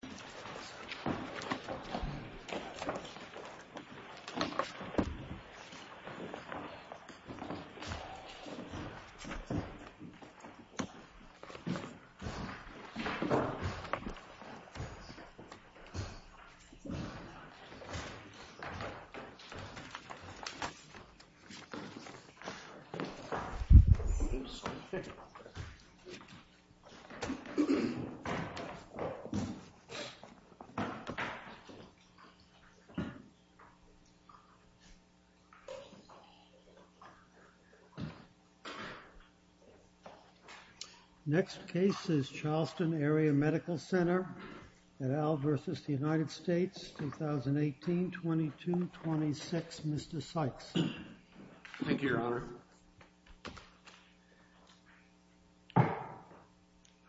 U.S. Army Medical Ctr. v. U.S. Army Medical Ctr. v. U.S. Army Medical Ctr. v. U.S. Army Next case is Charleston Area Medical Ctr. v. United States U.S. Army Medical Ctr. v. U.S. Army Medical Ctr. v. U.S. Army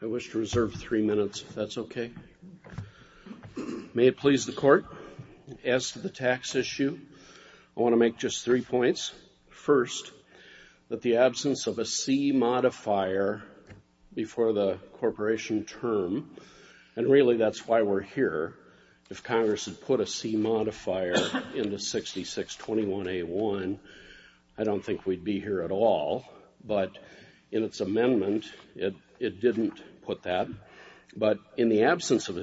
I wish to reserve three minutes if that's okay. May it please the Court, as to the tax issue, I want to make just three points. First, that the absence of a C-modifier before the corporation term, and really that's why we're here, if Congress had put a C-modifier into 6621A1, I don't think we'd be here at all. But in its amendment, it didn't put that. But in the absence of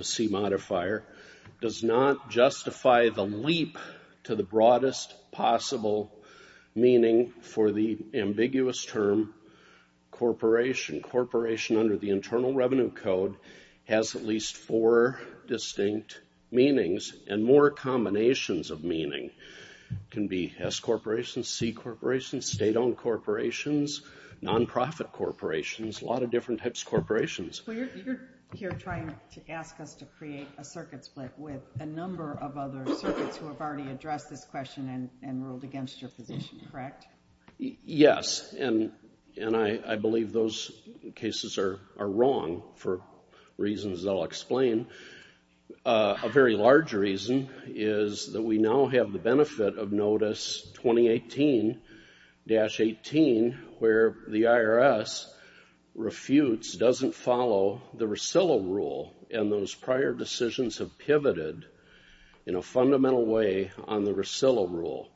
a C-modifier does not justify the leap to the broadest possible meaning for the ambiguous term corporation. Corporation under the Internal Revenue Code has at least four distinct meanings and more combinations of meaning. It can be S-corporations, C-corporations, state-owned corporations, non-profit corporations, a lot of different types of corporations. Well, you're here trying to ask us to create a circuit split with a number of other circuits who have already addressed this question and ruled against your position, correct? Yes, and I believe those cases are wrong for reasons I'll explain. A very large reason is that we now have the benefit of Notice 2018-18, where the IRS refutes, doesn't follow, the Resillo Rule, and those prior decisions have pivoted in a fundamental way on the Resillo Rule.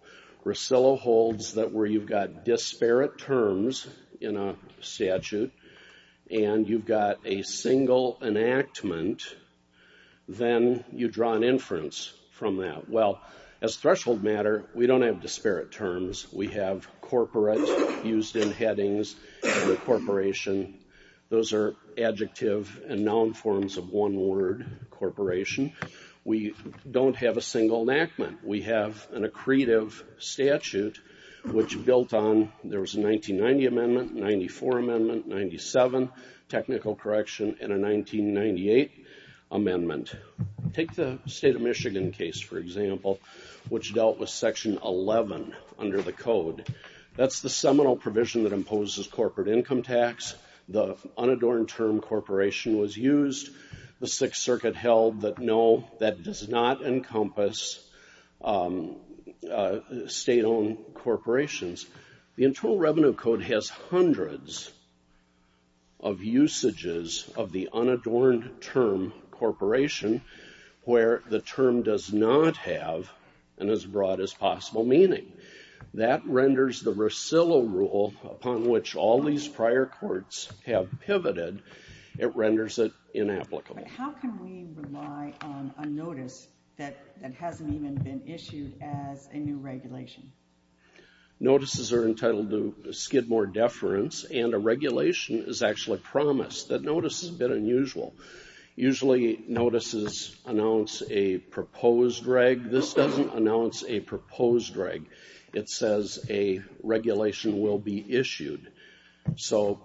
Resillo holds that where you've got disparate terms in a statute and you've got a single enactment, then you draw an inference from that. Well, as threshold matter, we don't have disparate terms. We have corporate used in headings and a corporation. Those are adjective and noun forms of one word, corporation. We don't have a single enactment. We have an accretive statute which built on, there was a 1990 amendment, 94 amendment, 97 technical correction, and a 1998 amendment. Take the state of Michigan case, for example, which dealt with section 11 under the code. That's the seminal provision that imposes corporate income tax. The unadorned term, corporation, was used. The Sixth Circuit held that no, that does not encompass state-owned corporations. The Internal Revenue Code has hundreds of usages of the unadorned term, corporation, where the term does not have an as broad as possible meaning. That renders the Resillo Rule, upon which all these prior courts have pivoted, it renders it inapplicable. How can we rely on a notice that hasn't even been issued as a new regulation? Notices are entitled to skid more deference, and a regulation is actually promised. That notice has been unusual. Usually, notices announce a proposed reg. This doesn't announce a proposed reg. It says a regulation will be issued. So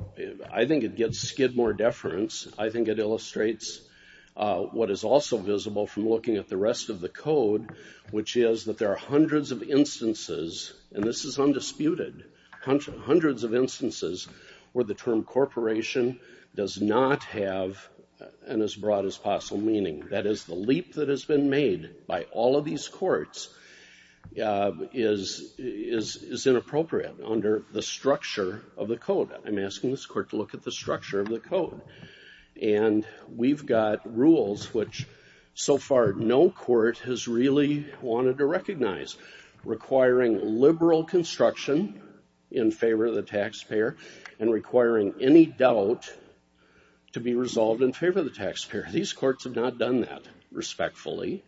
I think it gets skid more deference. I think it illustrates what is also visible from looking at the rest of the code, which is that there are hundreds of instances, and this is undisputed, hundreds of instances where the term corporation does not have an as broad as possible meaning. That is, the leap that has been made by all of these courts is inappropriate under the structure of the code. I'm asking this court to look at the structure of the code. And we've got rules which, so far, no court has really wanted to recognize, requiring liberal construction in favor of the taxpayer, and requiring any doubt to be resolved in favor of the taxpayer. These courts have not done that respectfully.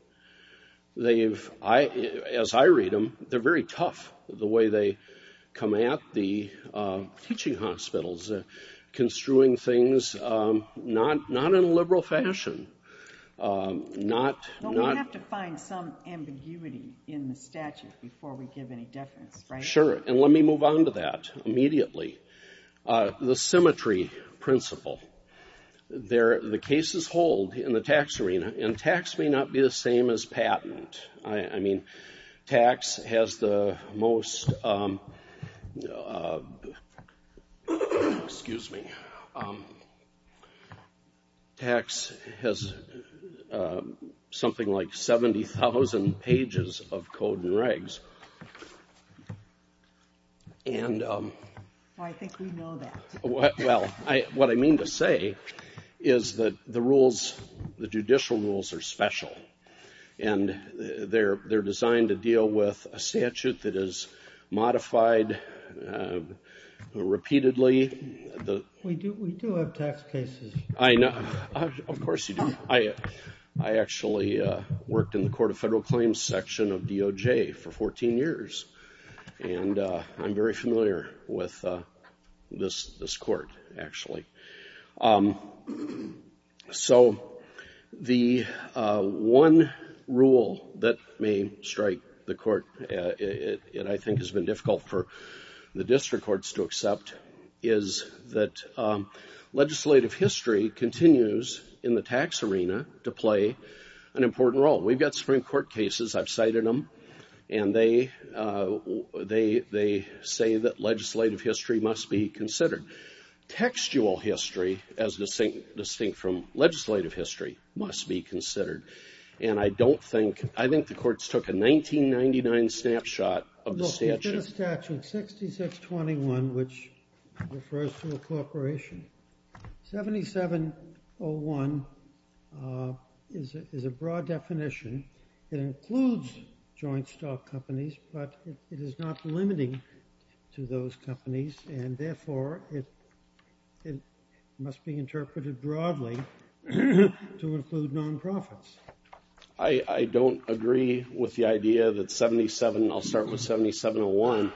As I read them, they're very tough, the way they come at the teaching hospitals, construing things not in a liberal fashion. But we have to find some ambiguity in the statute before we give any deference, right? Sure, and let me move on to that immediately. The symmetry principle. The cases hold in the tax arena, and tax may not be the same as patent. I mean, tax has the most, excuse me, tax has something like 70,000 pages of code and regs. I think we know that. Well, what I mean to say is that the judicial rules are special, and they're designed to deal with a statute that is modified repeatedly. We do have tax cases. I know, of course you do. I actually worked in the Court of Federal Claims section of DOJ for 14 years, and I'm very familiar with this court, actually. So the one rule that may strike the court, and I think has been difficult for the district courts to accept, is that legislative history continues in the tax arena to play an important role. We've got Supreme Court cases, I've cited them, and they say that legislative history must be considered. Textual history, distinct from legislative history, must be considered. And I don't think, I think the courts took a 1999 snapshot of the statute. In the statute 6621, which refers to a corporation, 7701 is a broad definition. It includes joint stock companies, but it is not limiting to those companies, and therefore it must be interpreted broadly to include non-profits. I don't agree with the idea that 77, I'll start with 7701,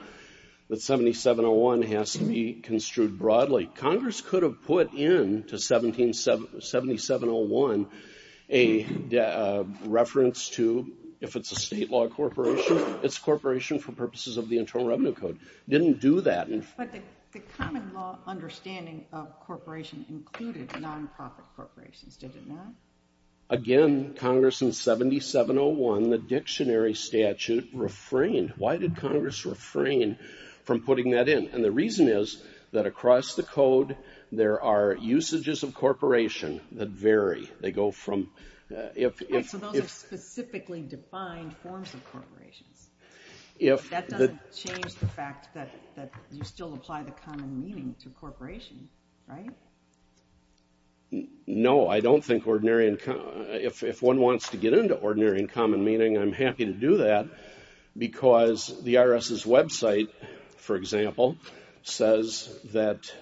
that 7701 has to be construed broadly. Congress could have put in to 7701 a reference to, if it's a state law corporation, it's a corporation for purposes of the Internal Revenue Code. Didn't do that. But the common law understanding of corporation included non-profit corporations, did it not? Again, Congress in 7701, the dictionary statute, refrained. Why did Congress refrain from putting that in? And the reason is that across the code, there are usages of corporation that vary. They go from, if... So those are specifically defined forms of corporations. That doesn't change the fact that you still apply the common meaning to corporation, right? No, I don't think ordinary... If one wants to get into ordinary and common meaning, I'm happy to do that. Because the IRS's website, for example, says that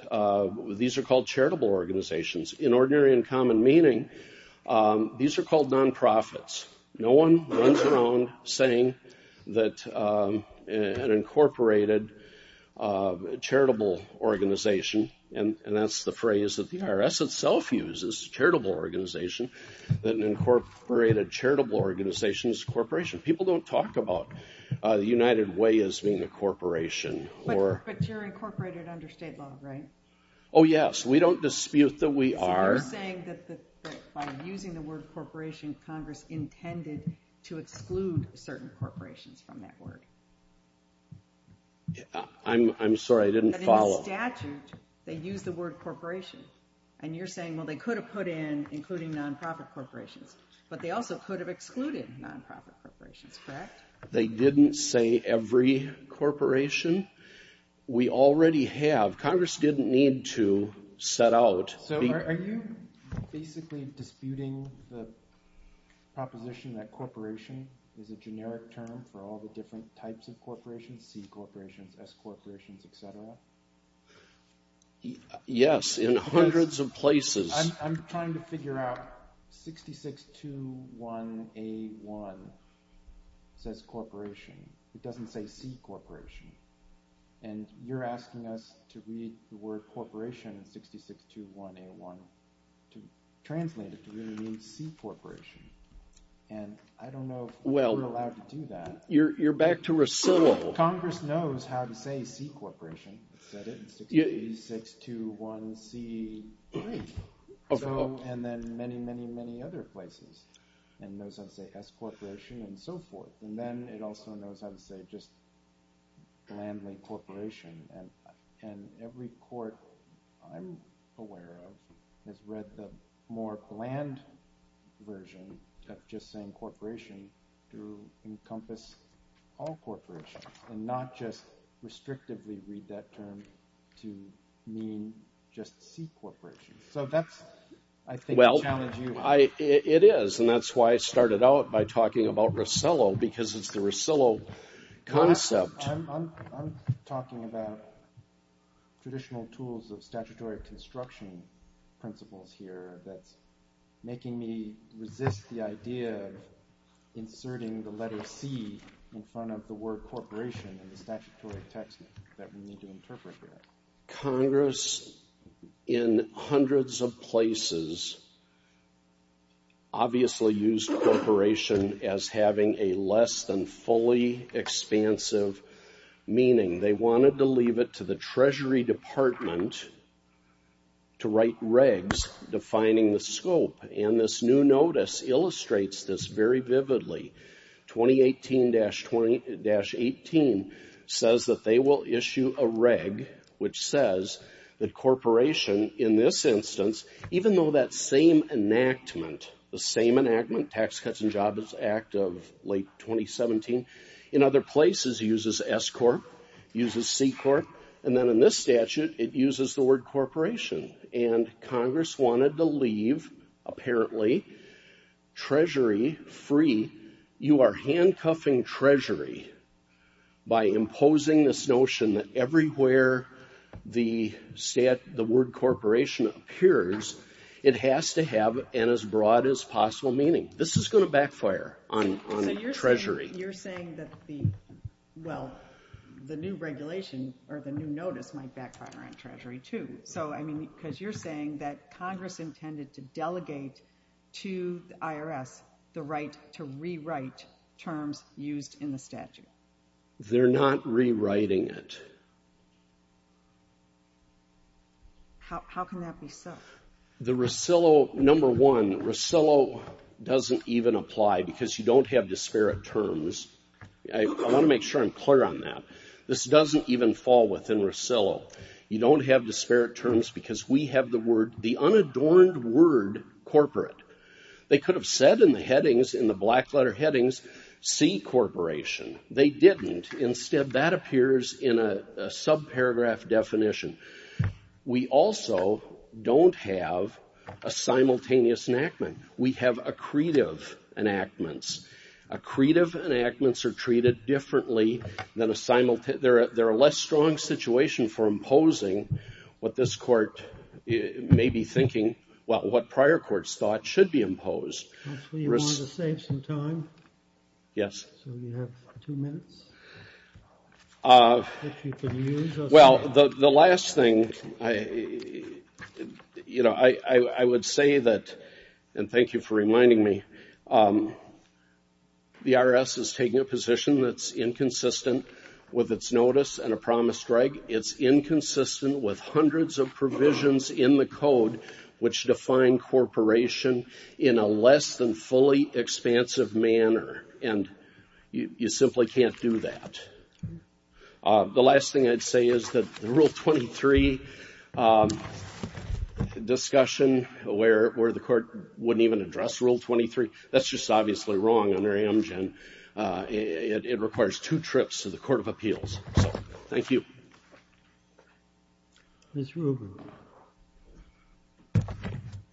these are called charitable organizations. In ordinary and common meaning, these are called non-profits. No one runs around saying that an incorporated charitable organization... And that's the phrase that the IRS itself uses, charitable organization. That an incorporated charitable organization is a corporation. People don't talk about the United Way as being a corporation. But you're incorporated under state law, right? Oh, yes. We don't dispute that we are. But you're saying that by using the word corporation, Congress intended to exclude certain corporations from that word. I'm sorry. I didn't follow. But in the statute, they use the word corporation. And you're saying, well, they could have put in including non-profit corporations. But they also could have excluded non-profit corporations, correct? They didn't say every corporation. We already have. Congress didn't need to set out... So are you basically disputing the proposition that corporation is a generic term for all the different types of corporations, C-corporations, S-corporations, etc.? Yes, in hundreds of places. I'm trying to figure out 6621A1 says corporation. It doesn't say C-corporation. And you're asking us to read the word corporation in 6621A1, to translate it to really mean C-corporation. And I don't know if we're allowed to do that. You're back to recital. Congress knows how to say C-corporation. It said it in 6621C3. And then many, many, many other places. And knows how to say S-corporation and so forth. And then it also knows how to say just blandly corporation. And every court I'm aware of has read the more bland version of just saying corporation to encompass all corporations and not just restrictively read that term to mean just C-corporation. So that's, I think, the challenge you have. It is, and that's why I started out by talking about recital because it's the recital concept. I'm talking about traditional tools of statutory construction principles here that's making me resist the idea of inserting the letter C in front of the word corporation in the statutory text that we need to interpret here. Congress, in hundreds of places, obviously used corporation as having a less than fully expansive meaning. They wanted to leave it to the Treasury Department to write regs defining the scope. And this new notice illustrates this very vividly. 2018-18 says that they will issue a reg which says that corporation, in this instance, even though that same enactment, the same enactment, Tax Cuts and Jobs Act of late 2017, in other places uses S-corp, uses C-corp, and then in this statute it uses the word corporation. And Congress wanted to leave, apparently, Treasury free. You are handcuffing Treasury by imposing this notion that everywhere the word corporation appears, it has to have an as broad as possible meaning. This is going to backfire on Treasury. So you're saying that the, well, the new regulation, or the new notice might backfire on Treasury too. So, I mean, because you're saying that Congress intended to delegate to the IRS the right to rewrite terms used in the statute. They're not rewriting it. How can that be so? The Resillo, number one, Resillo doesn't even apply because you don't have disparate terms. I want to make sure I'm clear on that. This doesn't even fall within Resillo. You don't have disparate terms because we have the word, the unadorned word corporate. They could have said in the headings, in the black letter headings, C-corporation. They didn't. Instead, that appears in a subparagraph definition. We also don't have a simultaneous enactment. We have accretive enactments. Accretive enactments are treated differently than a, they're a less strong situation for imposing what this court may be thinking, well, what prior courts thought should be imposed. You wanted to save some time. Yes. So you have two minutes. Well, the last thing, you know, I would say that, and thank you for reminding me, the IRS is taking a position that's inconsistent with its notice and a promised reg. It's inconsistent with hundreds of provisions in the code which define corporation in a less than fully expansive manner. And you simply can't do that. The last thing I'd say is that Rule 23 discussion, where the court wouldn't even address Rule 23, that's just obviously wrong under Amgen. It requires two trips to the Court of Appeals. Thank you. Ms. Rubin.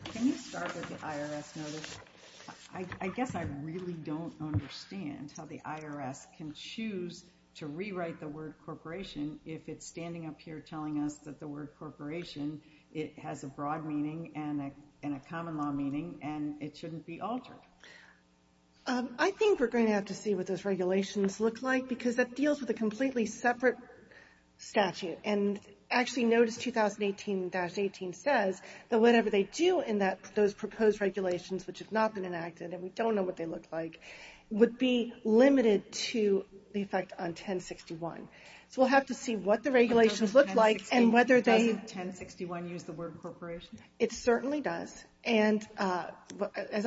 Can you start with the IRS notice? I guess I really don't understand how the IRS can choose to rewrite the word corporation if it's standing up here telling us that the word corporation, it has a broad meaning and a common law meaning, and it shouldn't be altered. I think we're going to have to see what those regulations look like because that deals with a completely separate statute. And actually notice 2018-18 says that whatever they do in those proposed regulations, which have not been enacted and we don't know what they look like, would be limited to the effect on 1061. So we'll have to see what the regulations look like. Doesn't 1061 use the word corporation? It certainly does. So you're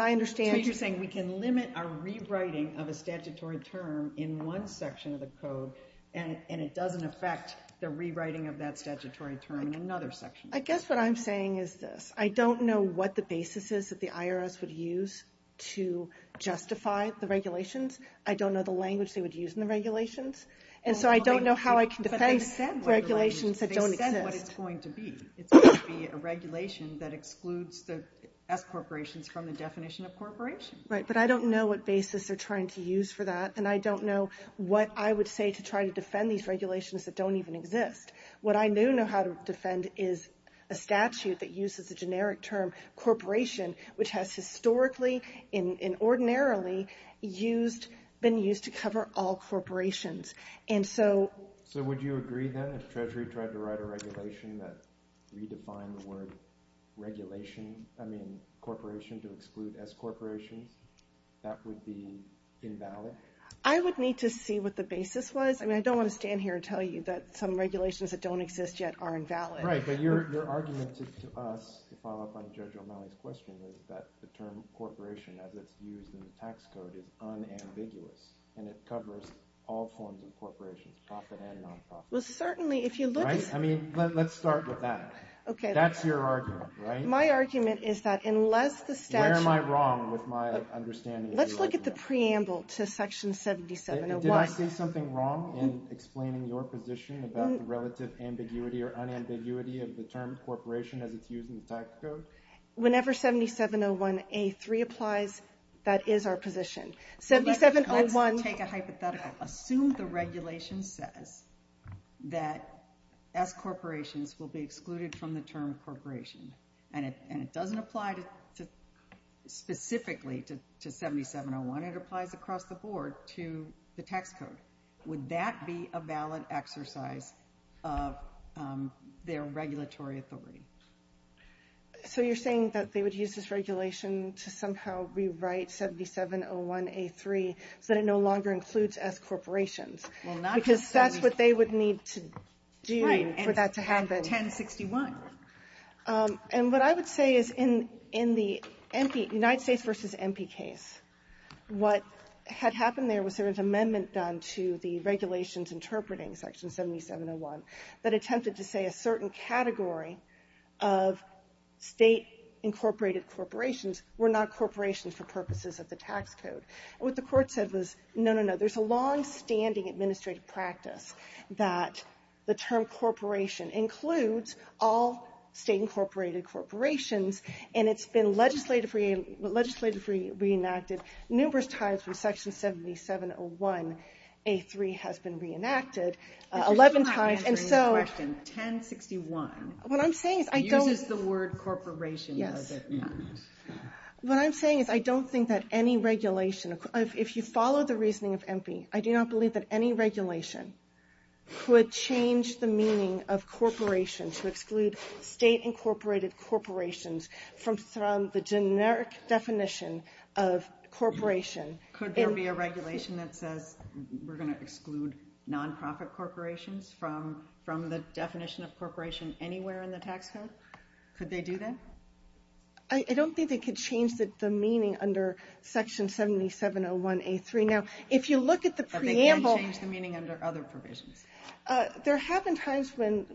saying we can limit our rewriting of a statutory term in one section of the code and it doesn't affect the rewriting of that statutory term in another section? I guess what I'm saying is this. I don't know what the basis is that the IRS would use to justify the regulations. I don't know the language they would use in the regulations. And so I don't know how I can defend regulations that don't exist. They said what it's going to be. It's going to be a regulation that excludes the S corporations from the definition of corporation. Right, but I don't know what basis they're trying to use for that, and I don't know what I would say to try to defend these regulations that don't even exist. What I do know how to defend is a statute that uses the generic term corporation, which has historically and ordinarily been used to cover all corporations. So would you agree, then, that if Treasury tried to write a regulation that redefined the word corporation to exclude S corporations, that would be invalid? I would need to see what the basis was. I don't want to stand here and tell you that some regulations that don't exist yet are invalid. Right, but your argument to us, to follow up on Judge O'Malley's question, is that the term corporation, as it's used in the tax code, is unambiguous, and it covers all forms of corporations, profit and non-profit. Well, certainly, if you look at— Right? I mean, let's start with that. Okay. That's your argument, right? My argument is that unless the statute— Where am I wrong with my understanding of your argument? Let's look at the preamble to Section 7701. Did I say something wrong in explaining your position about the relative ambiguity or unambiguity of the term corporation as it's used in the tax code? Whenever 7701A3 applies, that is our position. Let's take a hypothetical. Assume the regulation says that S corporations will be excluded from the term corporation, and it doesn't apply specifically to 7701. When it applies across the board to the tax code, would that be a valid exercise of their regulatory authority? So you're saying that they would use this regulation to somehow rewrite 7701A3 so that it no longer includes S corporations? Well, not just 7— Because that's what they would need to do for that to happen. Right, and to have 1061. And what I would say is in the United States v. MP case, what had happened there was there was an amendment done to the regulations interpreting Section 7701 that attempted to say a certain category of State-incorporated corporations were not corporations for purposes of the tax code. And what the Court said was, no, no, no, there's a longstanding administrative practice that the term corporation includes all State-incorporated corporations, and it's been legislatively re-enacted numerous times with Section 7701A3 has been re-enacted 11 times. But you're still not answering the question. 1061 uses the word corporation, does it not? Yes. What I'm saying is I don't think that any regulation, if you follow the reasoning of MP, I do not believe that any regulation could change the meaning of corporation to exclude State-incorporated corporations from the generic definition of corporation. Could there be a regulation that says we're going to exclude nonprofit corporations from the definition of corporation anywhere in the tax code? Could they do that? I don't think they could change the meaning under Section 7701A3. Now, if you look at the preamble. But they could change the meaning under other provisions. There have been times when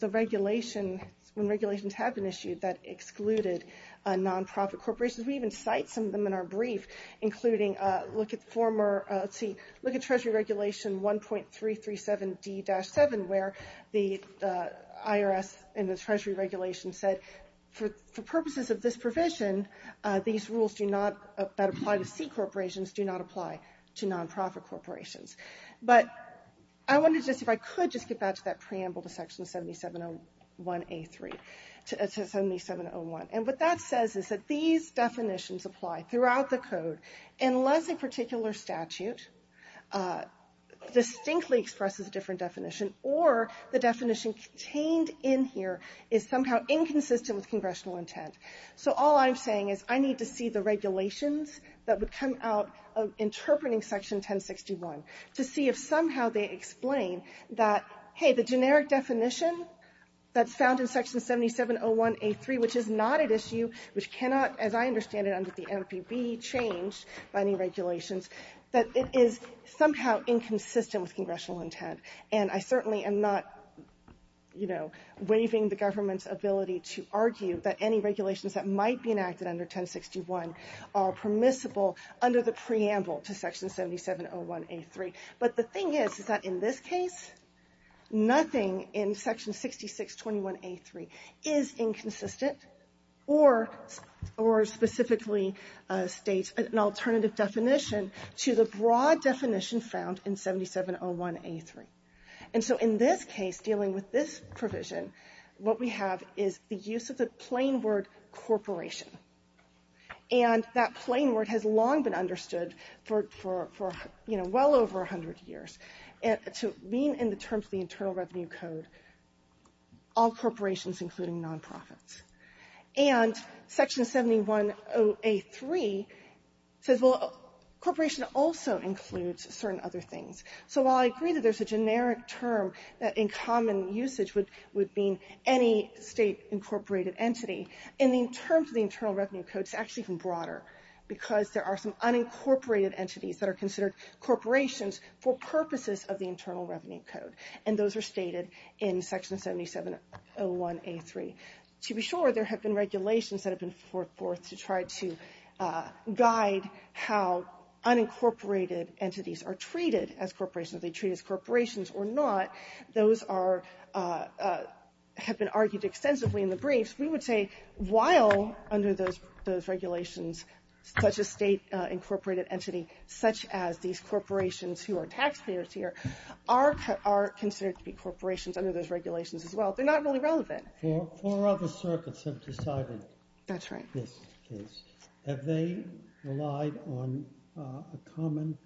the regulations have been issued that excluded nonprofit corporations. We even cite some of them in our brief, including look at Treasury Regulation 1.337D-7 where the IRS and the Treasury Regulation said, for purposes of this provision, these rules that apply to C-corporations do not apply to nonprofit corporations. But I wonder if I could just get back to that preamble to Section 7701A3, to 7701. And what that says is that these definitions apply throughout the code unless a particular statute distinctly expresses a different definition or the definition contained in here is somehow inconsistent with congressional intent. So all I'm saying is I need to see the regulations that would come out of interpreting Section 1061 to see if somehow they explain that, hey, the generic definition that's found in Section 7701A3, which is not at issue, which cannot, as I understand it, under the MPB change by any regulations, that it is somehow inconsistent with congressional intent. And I certainly am not, you know, waiving the government's ability to argue that any regulations that might be enacted under 1061 are permissible under the preamble to Section 7701A3. But the thing is, is that in this case, nothing in Section 6621A3 is inconsistent or specifically states an alternative definition to the broad definition found in 7701A3. And so in this case, dealing with this provision, what we have is the use of the plain word corporation. And that plain word has long been understood for, you know, well over 100 years. And to mean in the terms of the Internal Revenue Code, all corporations including nonprofits. And Section 7701A3 says, well, corporation also includes certain other things. So while I agree that there's a generic term that in common usage would mean any state incorporated entity, in the terms of the Internal Revenue Code, it's actually even broader because there are some unincorporated entities that are considered corporations for purposes of the Internal Revenue Code. And those are stated in Section 7701A3. To be sure, there have been regulations that have been put forth to try to guide how unincorporated entities are treated as corporations. They treat as corporations or not. Those have been argued extensively in the briefs. We would say while under those regulations, such a state incorporated entity, such as these corporations who are taxpayers here, are considered to be corporations under those regulations as well. They're not really relevant. Four other circuits have decided. That's right. Have they relied on a common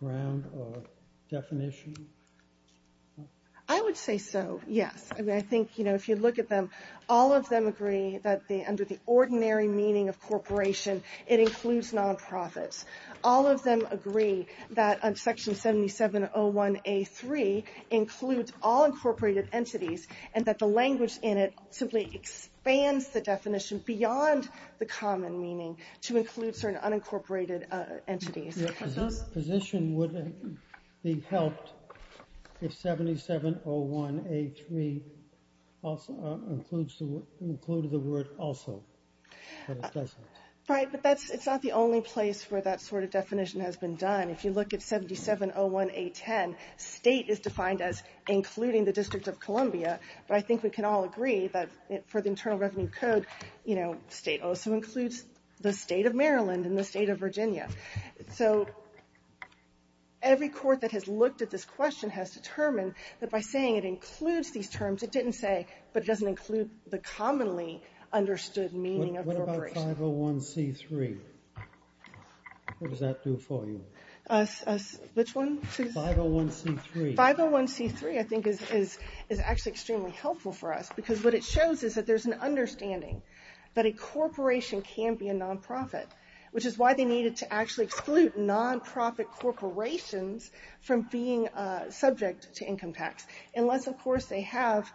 ground or definition? I would say so, yes. I think if you look at them, all of them agree that under the ordinary meaning of corporation, it includes nonprofits. All of them agree that Section 7701A3 includes all incorporated entities and that the language in it simply expands the definition beyond the common meaning to include certain unincorporated entities. Your position would be helped if 7701A3 included the word also. Right, but it's not the only place where that sort of definition has been done. If you look at 7701A10, state is defined as including the District of Columbia, but I think we can all agree that for the Internal Revenue Code, state also includes the state of Maryland and the state of Virginia. So every court that has looked at this question has determined that by saying it includes these terms, it didn't say, but it doesn't include the commonly understood meaning of corporation. What about 501C3? What does that do for you? Which one? 501C3. 501C3, I think, is actually extremely helpful for us because what it shows is that there's an understanding that a corporation can be a non-profit, which is why they needed to actually exclude non-profit corporations from being subject to income tax, unless, of course, they have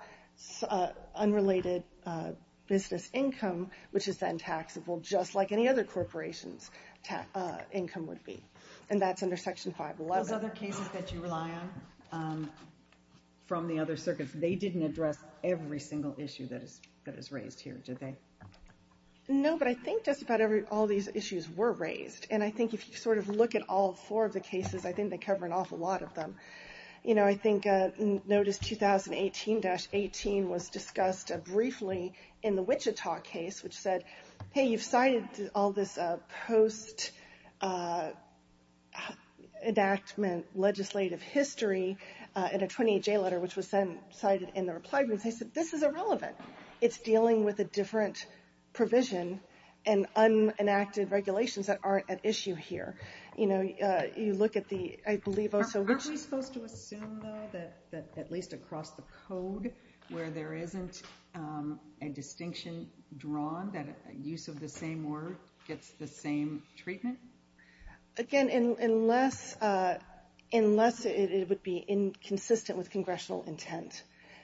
unrelated business income, which is then taxable just like any other corporation's income would be, and that's under Section 511. Those other cases that you rely on from the other circuits, they didn't address every single issue that is raised here, did they? No, but I think just about all these issues were raised, and I think if you sort of look at all four of the cases, I think they cover an awful lot of them. I think notice 2018-18 was discussed briefly in the Wichita case, which said, hey, you've cited all this post-enactment legislative history in a 28-J letter, which was then cited in the reply group, and they said, this is irrelevant. It's dealing with a different provision and unenacted regulations that aren't at issue here. You know, you look at the, I believe also... Aren't we supposed to assume, though, that at least across the code, where there isn't a distinction drawn, that use of the same word gets the same treatment? Again, unless it would be inconsistent with congressional intent.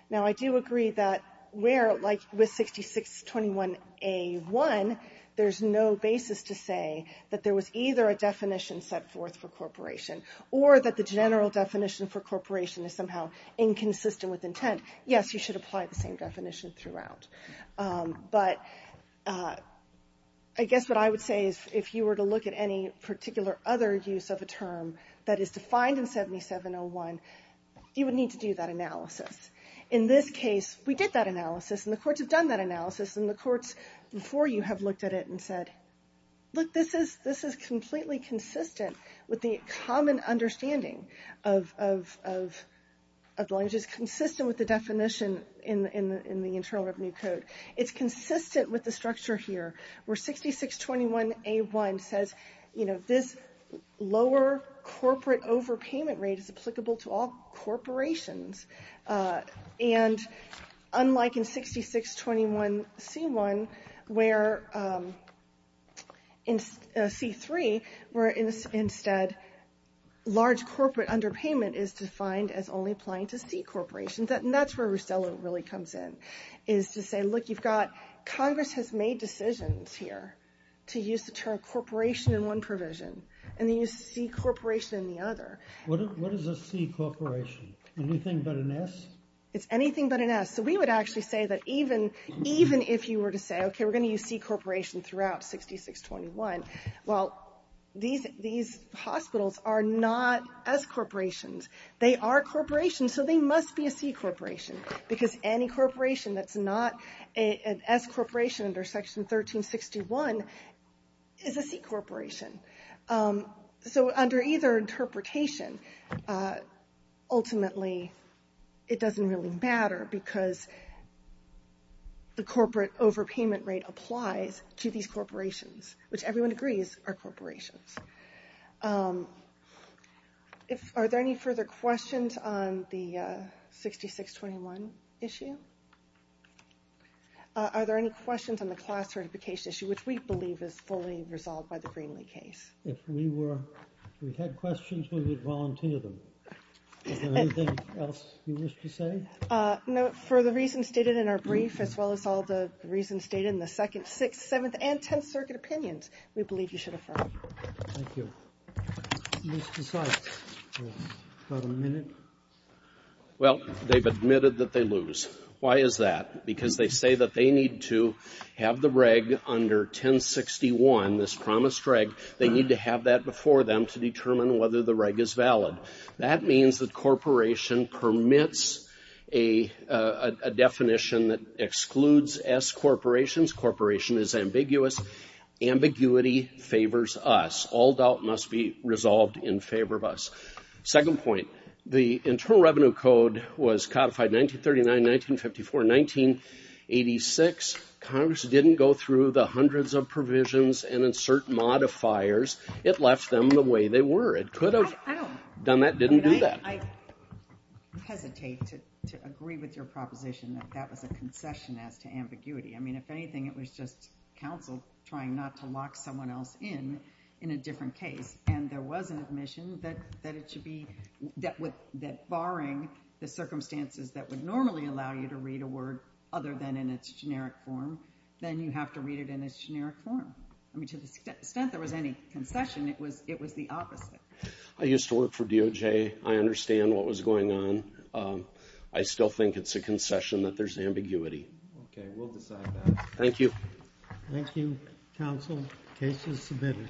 Now, I do agree that where, like with 6621A1, there's no basis to say that there was either a definition set forth for corporation or that the general definition for corporation is somehow inconsistent with intent. Yes, you should apply the same definition throughout. But I guess what I would say is, if you were to look at any particular other use of a term that is defined in 7701, you would need to do that analysis. In this case, we did that analysis, and the courts have done that analysis, and the courts before you have looked at it and said, look, this is completely consistent with the common understanding of the language. It is consistent with the definition in the Internal Revenue Code. It's consistent with the structure here, where 6621A1 says, you know, this lower corporate overpayment rate is applicable to all corporations. And unlike in 6621C1, where in C3, where instead large corporate underpayment is defined as only applying to C corporations, and that's where Rustello really comes in, is to say, look, you've got, Congress has made decisions here to use the term corporation in one provision, and then use C corporation in the other. What is a C corporation? Anything but an S? It's anything but an S. So we would actually say that even if you were to say, okay, we're going to use C corporation throughout 6621, well, these hospitals are not S corporations. They are corporations, so they must be a C corporation, because any corporation that's not an S corporation under Section 1361 is a C corporation. So under either interpretation, ultimately, it doesn't really matter, because the corporate overpayment rate applies to these corporations, which everyone agrees are corporations. Are there any further questions on the 6621 issue? Are there any questions on the class certification issue, which we believe is fully resolved by the Greenlee case? If we had questions, we would volunteer them. Is there anything else you wish to say? No, for the reasons stated in our brief, as well as all the reasons stated in the 2nd, 6th, 7th, and 10th Circuit opinions, we believe you should affirm. Thank you. Mr. Seitz, you've got a minute. Well, they've admitted that they lose. Why is that? Because they say that they need to have the reg under 1061, this promised reg. They need to have that before them to determine whether the reg is valid. That means that corporation permits a definition that excludes S corporations. Corporation is ambiguous. Ambiguity favors us. All doubt must be resolved in favor of us. Second point, the Internal Revenue Code was codified 1939, 1954, 1986. Congress didn't go through the hundreds of provisions and insert modifiers. It left them the way they were. It could have done that, didn't do that. I hesitate to agree with your proposition that that was a concession as to ambiguity. I mean, if anything, it was just counsel trying not to lock someone else in in a different case. And there was an admission that it should be that barring the circumstances that would normally allow you to read a word other than in its generic form, then you have to read it in its generic form. To the extent there was any concession, it was the opposite. I used to work for DOJ. I understand what was going on. I still think it's a concession that there's ambiguity. Okay, we'll decide that. Thank you. Thank you, counsel. Case is submitted.